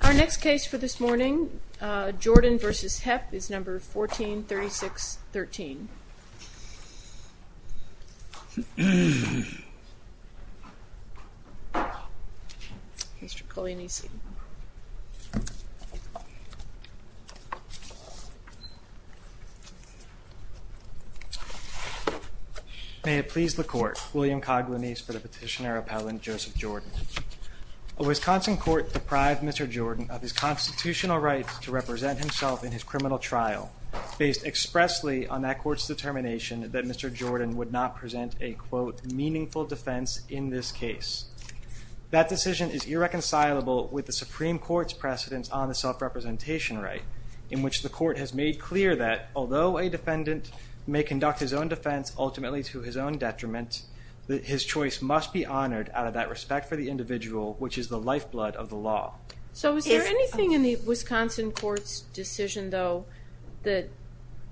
Our next case for this morning, Jordan v. Hepp, is number 143613. May it please the Court, William Coghlanese for the petitioner appellant Joseph Jordan. A Wisconsin court deprived Mr. Jordan of his constitutional rights to represent himself in that court's determination that Mr. Jordan would not present a, quote, meaningful defense in this case. That decision is irreconcilable with the Supreme Court's precedence on the self-representation right in which the court has made clear that although a defendant may conduct his own defense ultimately to his own detriment, that his choice must be honored out of that respect for the individual which is the lifeblood of the law. So is there anything in the Wisconsin court's decision, though, that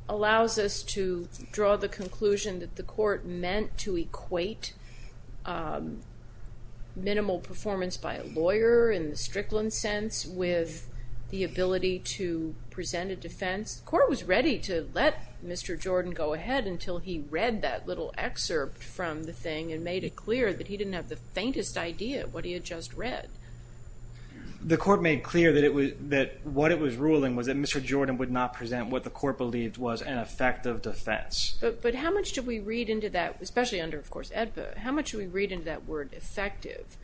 allows us to draw the conclusion that the court meant to equate minimal performance by a lawyer in the Strickland sense with the ability to present a defense? The court was ready to let Mr. Jordan go ahead until he read that little excerpt from the read. The court made clear that what it was ruling was that Mr. Jordan would not present what the court believed was an effective defense. But how much do we read into that, especially under, of course, AEDPA, how much do we read into that word effective?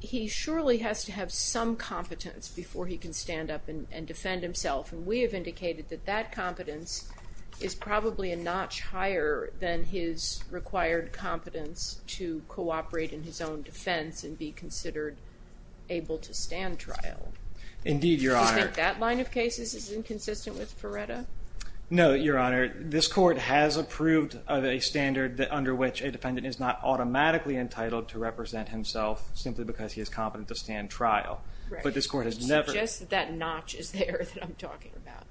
He surely has to have some competence before he can stand up and defend himself and we have indicated that that competence is probably a notch higher than his required competence to cooperate in his own defense and be considered able to stand trial. Indeed, Your Honor. Do you think that line of cases is inconsistent with Feretta? No, Your Honor. This court has approved of a standard under which a defendant is not automatically entitled to represent himself simply because he is competent to stand trial. But this court has never- I would suggest that that notch is there that I'm talking about.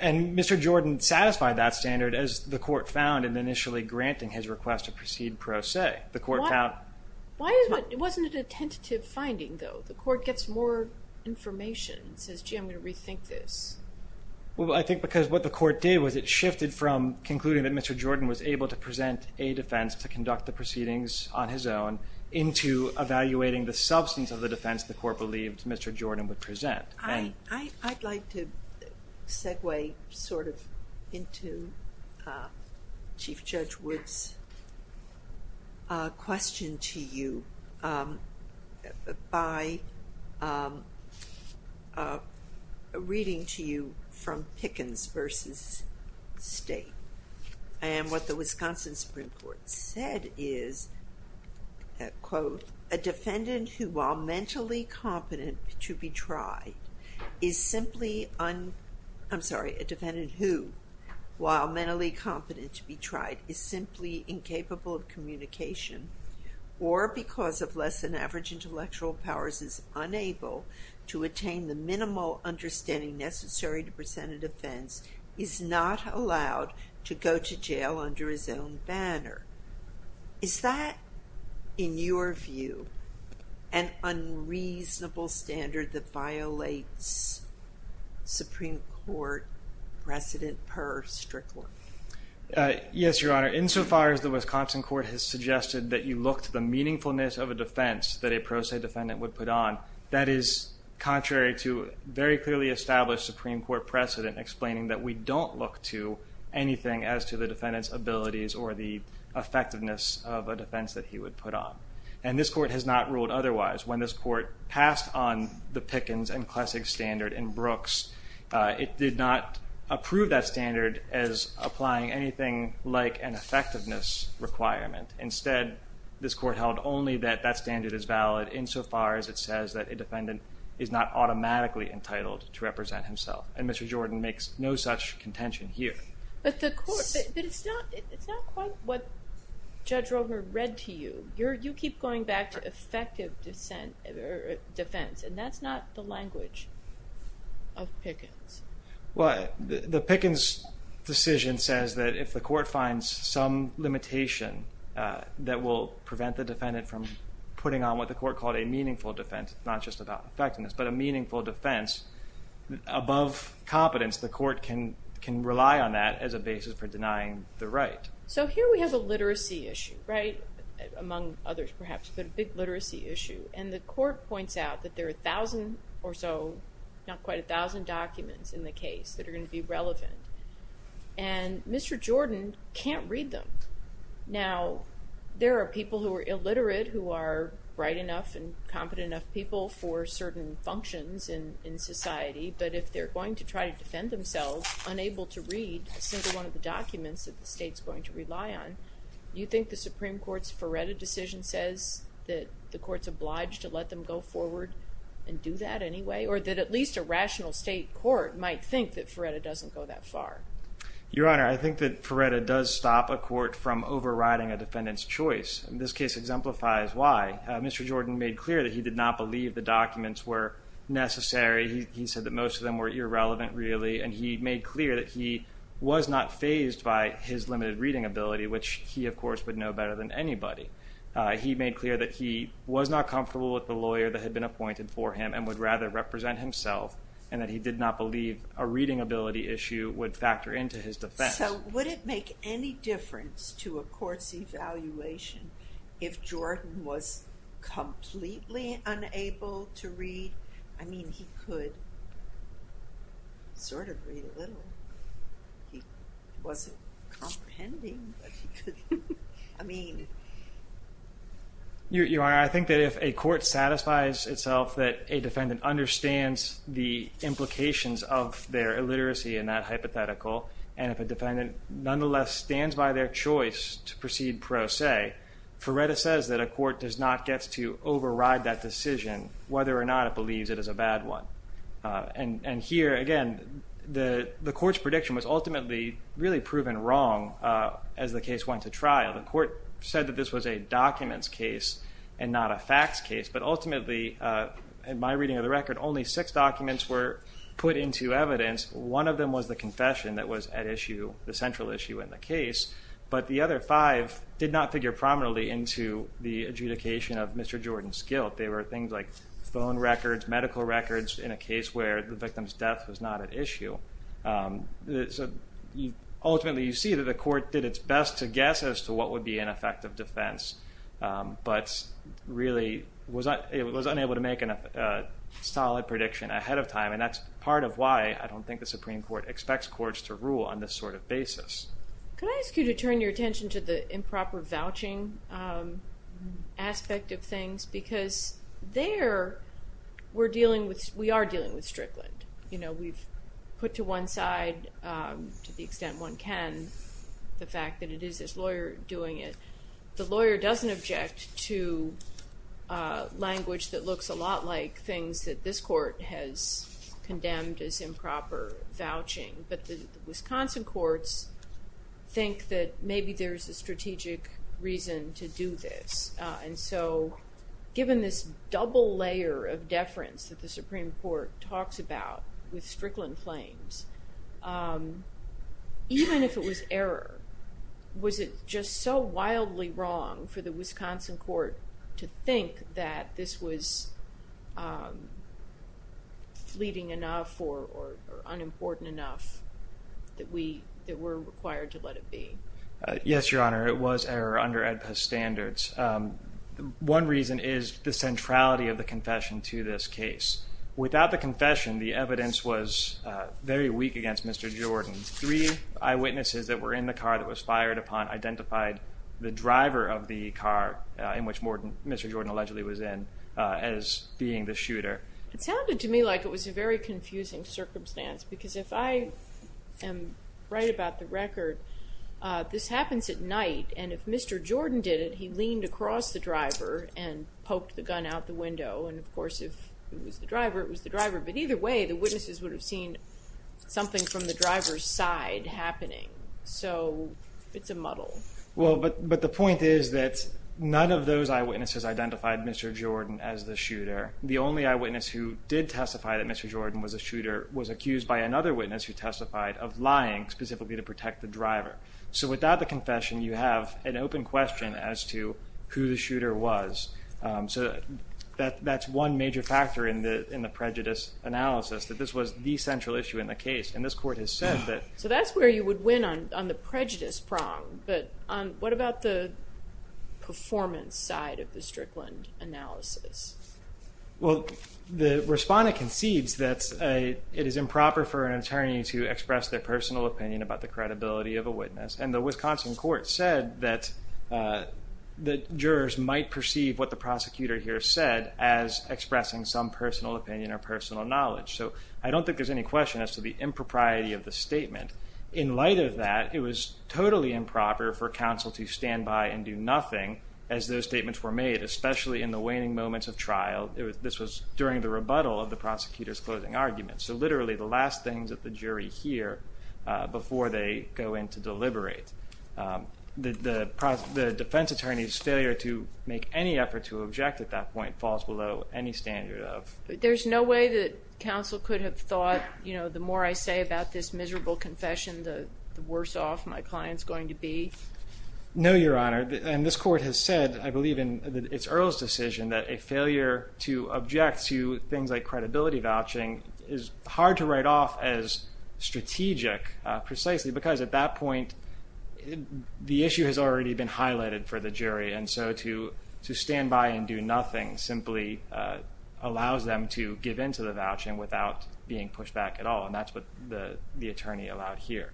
And Mr. Jordan satisfied that standard as the court found in initially granting his request to proceed pro se. The court found- Why is that? It wasn't a tentative finding, though. The court gets more information and says, gee, I'm going to rethink this. Well, I think because what the court did was it shifted from concluding that Mr. Jordan was able to present a defense to conduct the proceedings on his own into evaluating the I'd like to segue sort of into Chief Judge Wood's question to you by reading to you from Pickens versus State. And what the Wisconsin Supreme Court said is, quote, a defendant who while mentally competent to be tried is simply un- I'm sorry, a defendant who while mentally competent to be tried is simply incapable of communication or because of less than average intellectual powers is unable to attain the minimal understanding necessary to present a defense is not allowed to go to jail under his own banner. Is that, in your view, an unreasonable standard that violates Supreme Court precedent per Strickler? Yes, Your Honor. Insofar as the Wisconsin court has suggested that you look to the meaningfulness of a defense that a pro se defendant would put on, that is contrary to very clearly established Supreme Court precedent explaining that we don't look to anything as to the defendant's abilities or the effectiveness of a defense that he would put on. And this court has not ruled otherwise. When this court passed on the Pickens and Klessig standard in Brooks, it did not approve that standard as applying anything like an effectiveness requirement. Instead, this court held only that that standard is valid insofar as it says that a defendant is not automatically entitled to represent himself. And Mr. Jordan makes no such contention here. But the court, but it's not quite what Judge Romer read to you. You keep going back to effective defense and that's not the language of Pickens. Well, the Pickens decision says that if the court finds some limitation that will prevent the defendant from putting on what the court called a meaningful defense, not just about defense, above competence, the court can rely on that as a basis for denying the right. So here we have a literacy issue, right? Among others perhaps, but a big literacy issue. And the court points out that there are a thousand or so, not quite a thousand documents in the case that are going to be relevant. And Mr. Jordan can't read them. Now there are people who are illiterate who are bright enough and competent enough people for certain functions in society, but if they're going to try to defend themselves unable to read a single one of the documents that the state's going to rely on, you think the Supreme Court's Feretta decision says that the court's obliged to let them go forward and do that anyway? Or that at least a rational state court might think that Feretta doesn't go that far? Your Honor, I think that Feretta does stop a court from overriding a defendant's choice. This case exemplifies why. Mr. Jordan made clear that he did not believe the documents were necessary. He said that most of them were irrelevant really, and he made clear that he was not phased by his limited reading ability, which he of course would know better than anybody. He made clear that he was not comfortable with the lawyer that had been appointed for him and would rather represent himself, and that he did not believe a reading ability issue would factor into his defense. So would it make any difference to a court's evaluation if Jordan was completely unable to read? I mean, he could sort of read a little, he wasn't comprehending, but he could, I mean. Your Honor, I think that if a court satisfies itself that a defendant understands the implications of their illiteracy in that hypothetical, and if a defendant nonetheless stands by their choice to proceed pro se, Feretta says that a court does not get to override that decision whether or not it believes it is a bad one. And here, again, the court's prediction was ultimately really proven wrong as the case went to trial. The court said that this was a documents case and not a facts case, but ultimately, in my into evidence, one of them was the confession that was at issue, the central issue in the case, but the other five did not figure prominently into the adjudication of Mr. Jordan's guilt. They were things like phone records, medical records in a case where the victim's death was not at issue. Ultimately, you see that the court did its best to guess as to what would be an effective defense, but really was unable to make a solid prediction ahead of time, and that's part of why I don't think the Supreme Court expects courts to rule on this sort of basis. Can I ask you to turn your attention to the improper vouching aspect of things? Because there, we're dealing with, we are dealing with Strickland. You know, we've put to one side, to the extent one can, the fact that it is this lawyer doing it. The lawyer doesn't object to language that looks a lot like things that this court has done, this improper vouching, but the Wisconsin courts think that maybe there's a strategic reason to do this, and so given this double layer of deference that the Supreme Court talks about with Strickland claims, even if it was error, was it just so wildly wrong for the Wisconsin court to think that this was fleeting enough or unimportant enough that we were required to let it be? Yes, Your Honor. It was error under AEDPA standards. One reason is the centrality of the confession to this case. Without the confession, the evidence was very weak against Mr. Jordan. Three eyewitnesses that were in the car that was fired upon identified the driver of the car in which Mr. Jordan allegedly was in as being the shooter. It sounded to me like it was a very confusing circumstance, because if I am right about the record, this happens at night, and if Mr. Jordan did it, he leaned across the driver and poked the gun out the window, and of course, if it was the driver, it was the driver, but either way, the witnesses would have seen something from the driver's side happening, so it's a muddle. But the point is that none of those eyewitnesses identified Mr. Jordan as the shooter. The only eyewitness who did testify that Mr. Jordan was a shooter was accused by another witness who testified of lying specifically to protect the driver. So without the confession, you have an open question as to who the shooter was, so that's one major factor in the prejudice analysis, that this was the central issue in the case, and this Court has said that... So that's where you would win on the prejudice prong, but what about the performance side of the Strickland analysis? Well, the Respondent concedes that it is improper for an attorney to express their personal opinion about the credibility of a witness, and the Wisconsin Court said that jurors might perceive what the prosecutor here said as expressing some personal opinion or personal knowledge, so I don't think there's any question as to the impropriety of the statement. In light of that, it was totally improper for counsel to stand by and do nothing as those statements were made, especially in the waning moments of trial. This was during the rebuttal of the prosecutor's closing argument, so literally the last things that the jury hear before they go in to deliberate. The defense attorney's failure to make any effort to object at that point falls below any standard of... There's no way that counsel could have thought, you know, the more I say about this miserable confession, the worse off my client's going to be? No, Your Honor, and this Court has said, I believe in its Earle's decision, that a failure to object to things like credibility vouching is hard to write off as strategic, precisely because at that point, the issue has already been highlighted for the jury, and so to stand by and do nothing simply allows them to give in to the vouching without being pushed back at all, and that's what the attorney allowed here.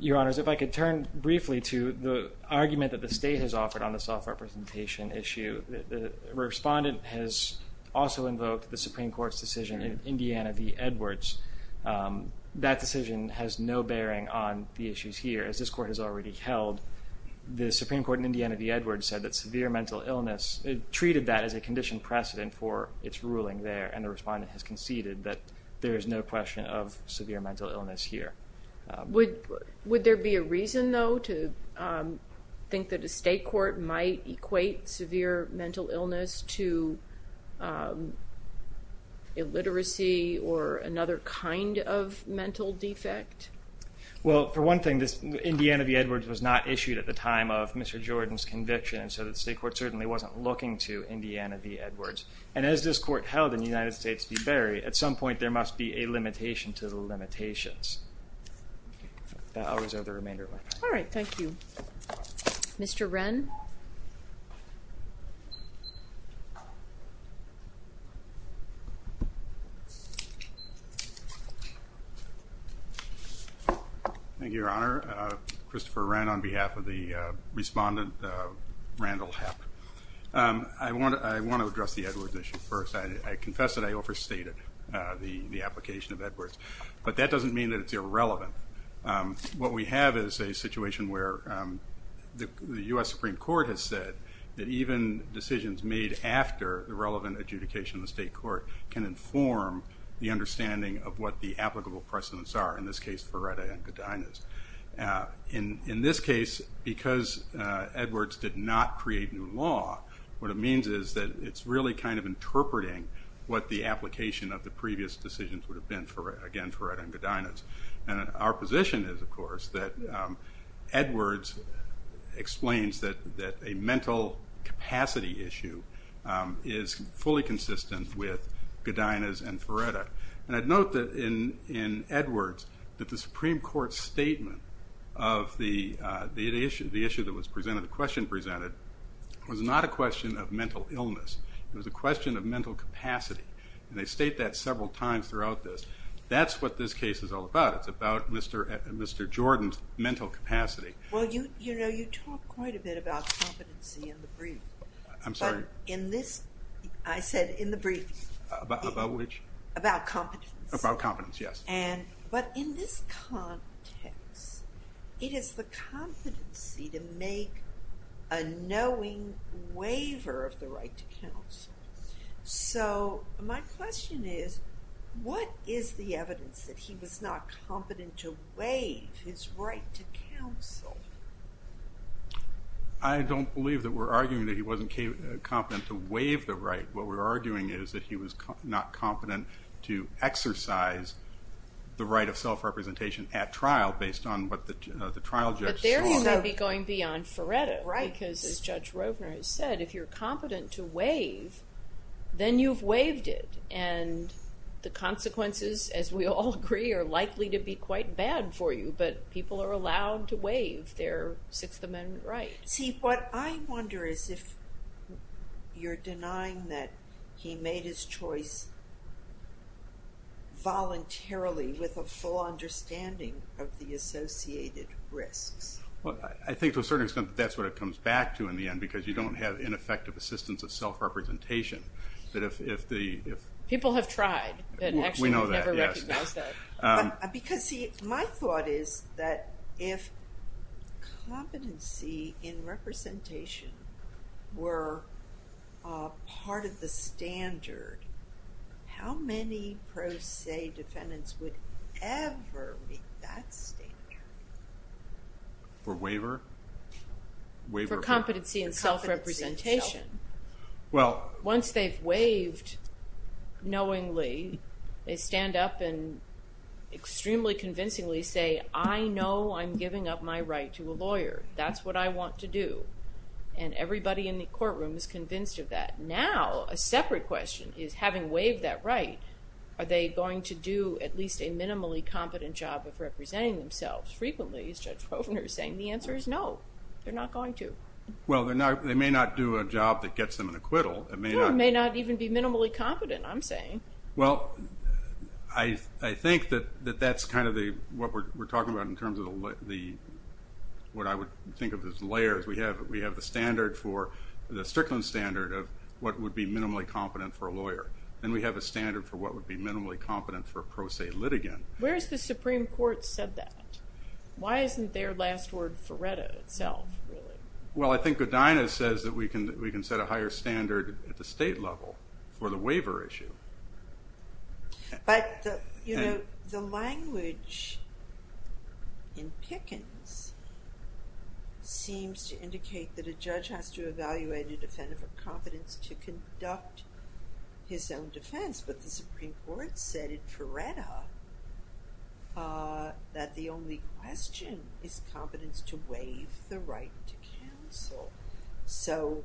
Your Honors, if I could turn briefly to the argument that the State has offered on the self-representation issue, the respondent has also invoked the Supreme Court's decision in Indiana v. Edwards. That decision has no bearing on the issues here, as this Court has already held. The Supreme Court in Indiana v. Edwards said that severe mental illness, it treated that as a condition precedent for its ruling there, and the respondent has conceded that there is no question of severe mental illness here. Would there be a reason, though, to think that a State court might equate severe mental illness to illiteracy or another kind of mental defect? Well, for one thing, this Indiana v. Edwards was not issued at the time of Mr. Jordan's conviction, and so the State court certainly wasn't looking to Indiana v. Edwards. And as this Court held in the United States v. Berry, at some point there must be a limitation to the limitations. I'll reserve the remainder of my time. All right. Thank you. Mr. Wrenn? Thank you, Your Honor. Christopher Wrenn on behalf of the respondent, Randall Hepp. I want to address the Edwards issue first. I confess that I overstated the application of Edwards, but that doesn't mean that it's irrelevant. What we have is a situation where the U.S. Supreme Court has said that even decisions made after the relevant adjudication of the State court can inform the understanding of what the applicable precedents are, in this case, for Retta and Godinez. In this case, because Edwards did not create new law, what it means is that it's really kind of interpreting what the application of the previous decisions would have been, again, for Retta and Godinez. Our position is, of course, that Edwards explains that a mental capacity issue is fully consistent with Godinez and for Retta. I'd note that in Edwards, that the Supreme Court's statement of the issue that was presented, the question presented, was not a question of mental illness, it was a question of mental capacity. They state that several times throughout this. That's what this case is all about. It's about Mr. Jordan's mental capacity. Well, you know, you talk quite a bit about competency in the brief. I'm sorry? In this, I said in the brief. About which? About competence. About competence, yes. But in this context, it is the competency to make a knowing waiver of the right to counsel. So, my question is, what is the evidence that he was not competent to waive his right to counsel? I don't believe that we're arguing that he wasn't competent to waive the right. What we're arguing is that he was not competent to exercise the right of self-representation at trial based on what the trial judge saw. But there you may be going beyond for Retta. Right. Because, as Judge Rovner has said, if you're competent to waive, then you've waived it. And the consequences, as we all agree, are likely to be quite bad for you. But people are allowed to waive their Sixth Amendment right. See, what I wonder is if you're denying that he made his choice voluntarily with a full understanding of the associated risks. Well, I think to a certain extent, that's what it comes back to in the end. Because you don't have ineffective assistance of self-representation. People have tried. We know that, yes. And actually never recognized that. Because, see, my thought is that if competency in representation were part of the standard, how many pros say defendants would ever meet that standard? For waiver? For competency in self-representation. Once they've waived knowingly, they stand up and extremely convincingly say, I know I'm giving up my right to a lawyer. That's what I want to do. And everybody in the courtroom is convinced of that. Now, a separate question is having waived that right, are they going to do at least a minimally competent job of representing themselves? Frequently, as Judge Rovner is saying, the answer is no, they're not going to. Well, they may not do a job that gets them an acquittal. It may not even be minimally competent, I'm saying. Well, I think that that's kind of what we're talking about in terms of what I would think of as layers. We have the standard for, the Strickland standard of what would be minimally competent for a lawyer. Then we have a standard for what would be minimally competent for a pro se litigant. Where has the Supreme Court said that? Why isn't their last word Faretta itself, really? Well, I think Godinez says that we can set a higher standard at the state level for the waiver issue. But, you know, the language in Pickens seems to indicate that a judge has to evaluate a defendant for competence to conduct his own defense, but the Supreme Court said in Faretta that the only question is competence to waive the right to counsel. So,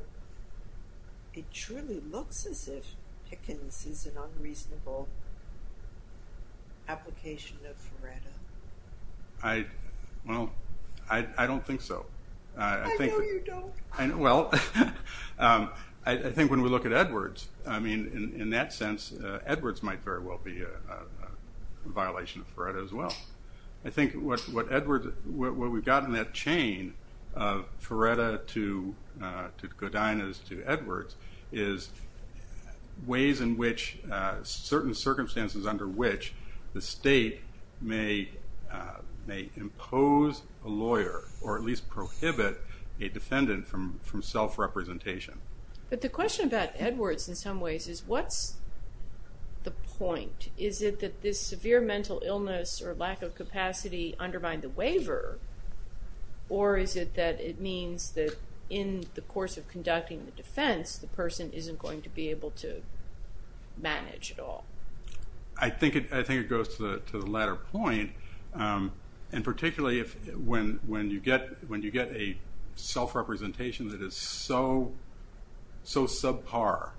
it truly looks as if Pickens is an unreasonable application of Faretta. I, well, I don't think so. I know you don't. Well, I think when we look at Edwards, I mean, in that sense Edwards might very well be a violation of Faretta as well. I think what Edwards, what we've got in that chain of Faretta to Godinez to Edwards is ways in which certain circumstances under which the state may impose a lawyer or at least prohibit a defendant from self-representation. But the question about Edwards in some ways is what's the point? Is it that this severe mental illness or lack of capacity undermine the waiver? Or is it that it means that in the course of conducting the defense, the person isn't going to be able to manage at all? I think it goes to the latter point. And particularly when you get a self-representation that is so subpar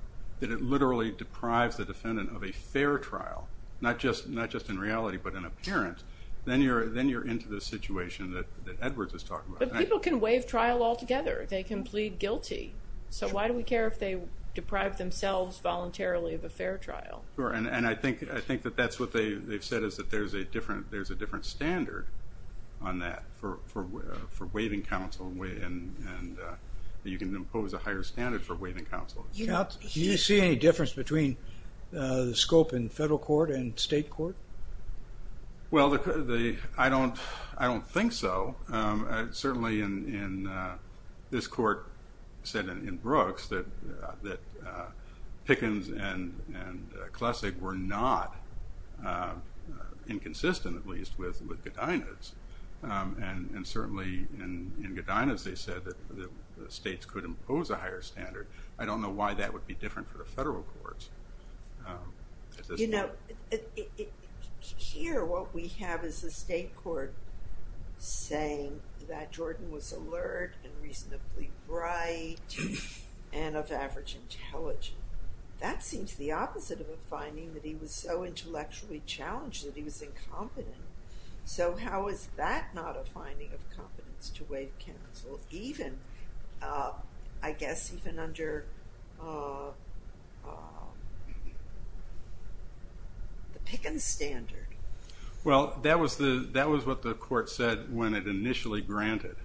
that it literally deprives the defendant of a fair trial, not just in reality but in appearance, then you're into the situation that Edwards is talking about. But people can waive trial altogether. They can plead guilty. So why do we care if they deprive themselves voluntarily of a fair trial? And I think that that's what they've said is that there's a different standard on that for waiving counsel and that you can impose a higher standard for waiving counsel. Do you see any difference between the scope in federal court and state court? Well I don't think so. Certainly in this court said in Brooks that Pickens and Klessig were not inconsistent at least with Godinez. And certainly in Godinez they said that the states could impose a higher standard. I don't know why that would be different for the federal courts. You know, here what we have is the state court saying that Jordan was alert and reasonably bright and of average intelligence. That seems the opposite of a finding that he was so intellectually challenged that he was incompetent. So how is that not a finding of competence to waive counsel even, I guess even under the Pickens standard? Well that was what the court said when it initially granted.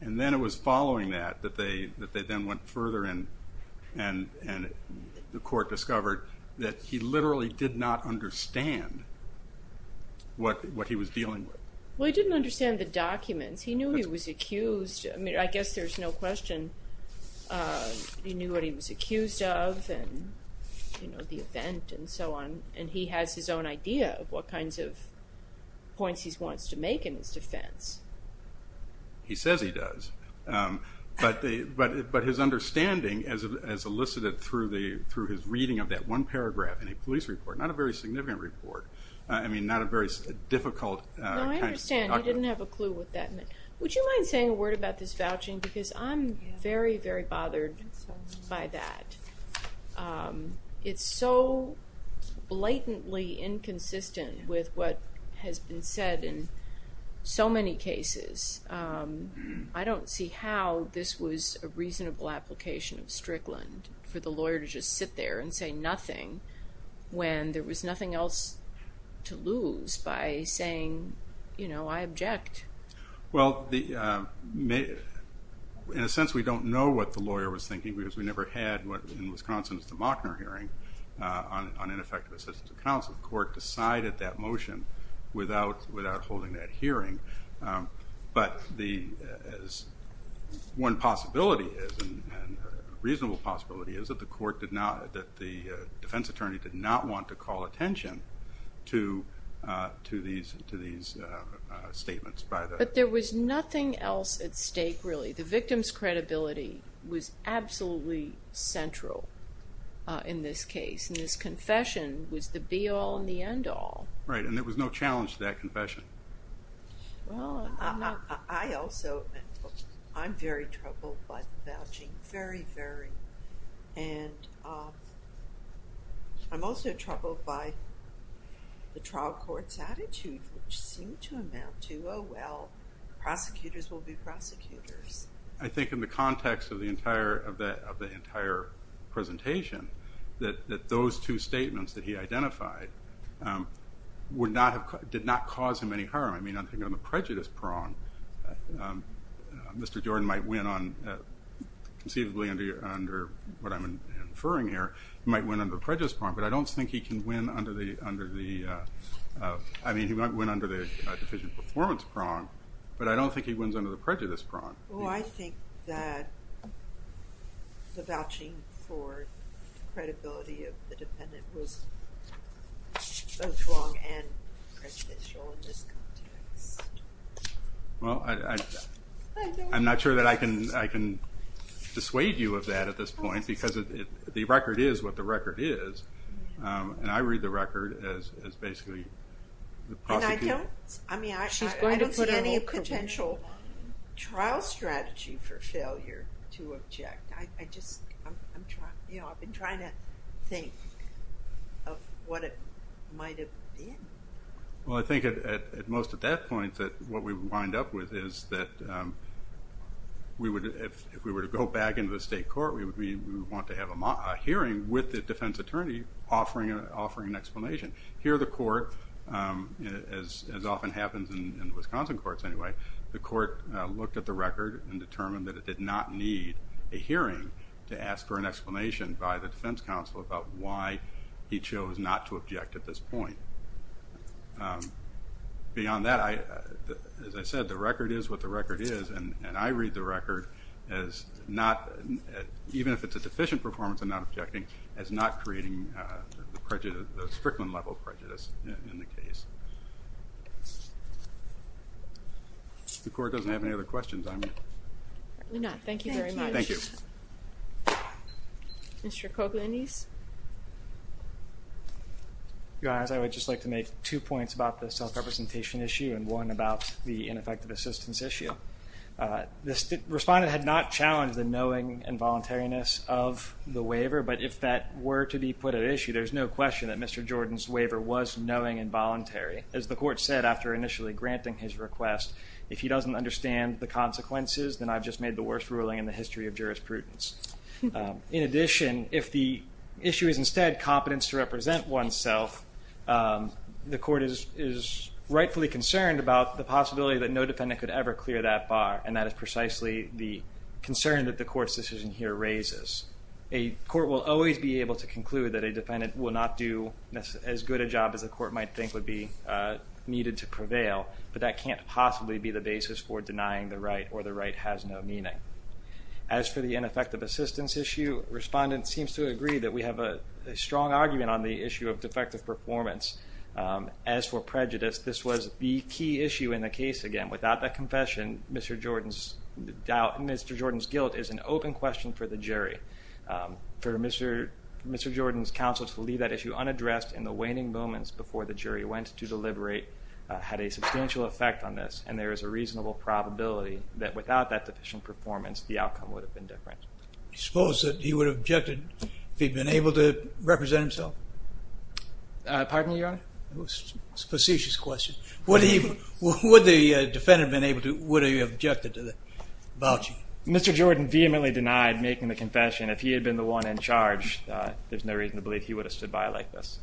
And then it was following that, that they then went further and the court discovered that he literally did not understand what he was dealing with. Well he didn't understand the documents. He knew he was accused. I mean I guess there's no question he knew what he was accused of and the event and so on and he has his own idea of what kinds of points he wants to make in his defense. He says he does. But his understanding as elicited through his reading of that one paragraph in a police report, not a very significant report, I mean not a very difficult kind of document. No I understand. You didn't have a clue what that meant. Would you mind saying a word about this vouching because I'm very, very bothered by that. It's so blatantly inconsistent with what has been said in so many cases. I don't see how this was a reasonable application of Strickland for the lawyer to just sit there and say nothing when there was nothing else to lose by saying, you know, I object. Well in a sense we don't know what the lawyer was thinking because we never had what in Wisconsin's DeMochner hearing on ineffective assistance of counsel, the court decided that But the, one possibility is, reasonable possibility is that the court did not, that the defense attorney did not want to call attention to these statements. But there was nothing else at stake really. The victim's credibility was absolutely central in this case and this confession was the be all and the end all. Right, and there was no challenge to that confession. Well I'm not, I also, I'm very troubled by the vouching, very, very, and I'm also troubled by the trial court's attitude which seemed to amount to, oh well, prosecutors will be prosecutors. I think in the context of the entire, of that, of the entire presentation that those two statements that he identified would not have, did not cause him any harm. I mean on the prejudice prong, Mr. Jordan might win on, conceivably under what I'm inferring here, he might win under the prejudice prong, but I don't think he can win under the, under the, I mean he might win under the deficient performance prong, but I don't think he wins under the prejudice prong. Well I think that the vouching for credibility of the defendant was both wrong and prejudicial in this context. Well I'm not sure that I can, I can dissuade you of that at this point because the record is what the record is, and I read the record as basically the prosecutor. I don't, I mean I don't see any potential trial strategy for failure to object. I just, I'm trying, you know, I've been trying to think of what it might have been. Well I think at most at that point that what we would wind up with is that we would, if we were to go back into the state court, we would want to have a hearing with the defense attorney offering an explanation. Here the court, as often happens in Wisconsin courts anyway, the court looked at the record and determined that it did not need a hearing to ask for an explanation by the defense counsel about why he chose not to object at this point. Beyond that, as I said, the record is what the record is, and I read the record as not, even if it's a deficient performance of not objecting, as not creating the Strickland level of prejudice in the case. The court doesn't have any other questions, I mean. No, thank you very much. Thank you. Mr. Coglianese? Your Honor, I would just like to make two points about the self-representation issue and one about the ineffective assistance issue. The respondent had not challenged the knowing and voluntariness of the waiver, but if that were to be put at issue, there's no question that Mr. Jordan's waiver was knowing and voluntary. As the court said after initially granting his request, if he doesn't understand the consequences, then I've just made the worst ruling in the history of jurisprudence. In addition, if the issue is instead competence to represent oneself, the court is rightfully concerned about the possibility that no defendant could ever clear that bar, and that is precisely the concern that the court's decision here raises. A court will always be able to conclude that a defendant will not do as good a job as the court might think would be needed to prevail, but that can't possibly be the basis for denying the right or the right has no meaning. As for the ineffective assistance issue, respondent seems to agree that we have a strong argument on the issue of defective performance. As for prejudice, this was the key issue in the case. Again, without that confession, Mr. Jordan's doubt, Mr. Jordan's guilt is an open question for the jury. For Mr. Jordan's counsel to leave that issue unaddressed in the waning moments before the jury went to deliberate had a substantial effect on this, and there is a reasonable probability that without that deficient performance, the outcome would have been different. I suppose that he would have objected if he'd been able to represent himself. Pardon me, Your Honor? It was a facetious question. Would he, would the defendant have been able to, would he have objected to the vouching? Mr. Jordan vehemently denied making the confession. If he had been the one in charge, there's no reason to believe he would have stood by like this.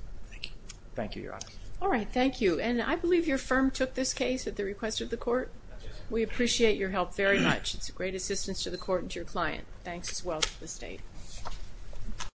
Thank you, Your Honor. All right, thank you. And I believe your firm took this case at the request of the court. We appreciate your help very much. It's a great assistance to the court and to your client. Thanks as well to the state.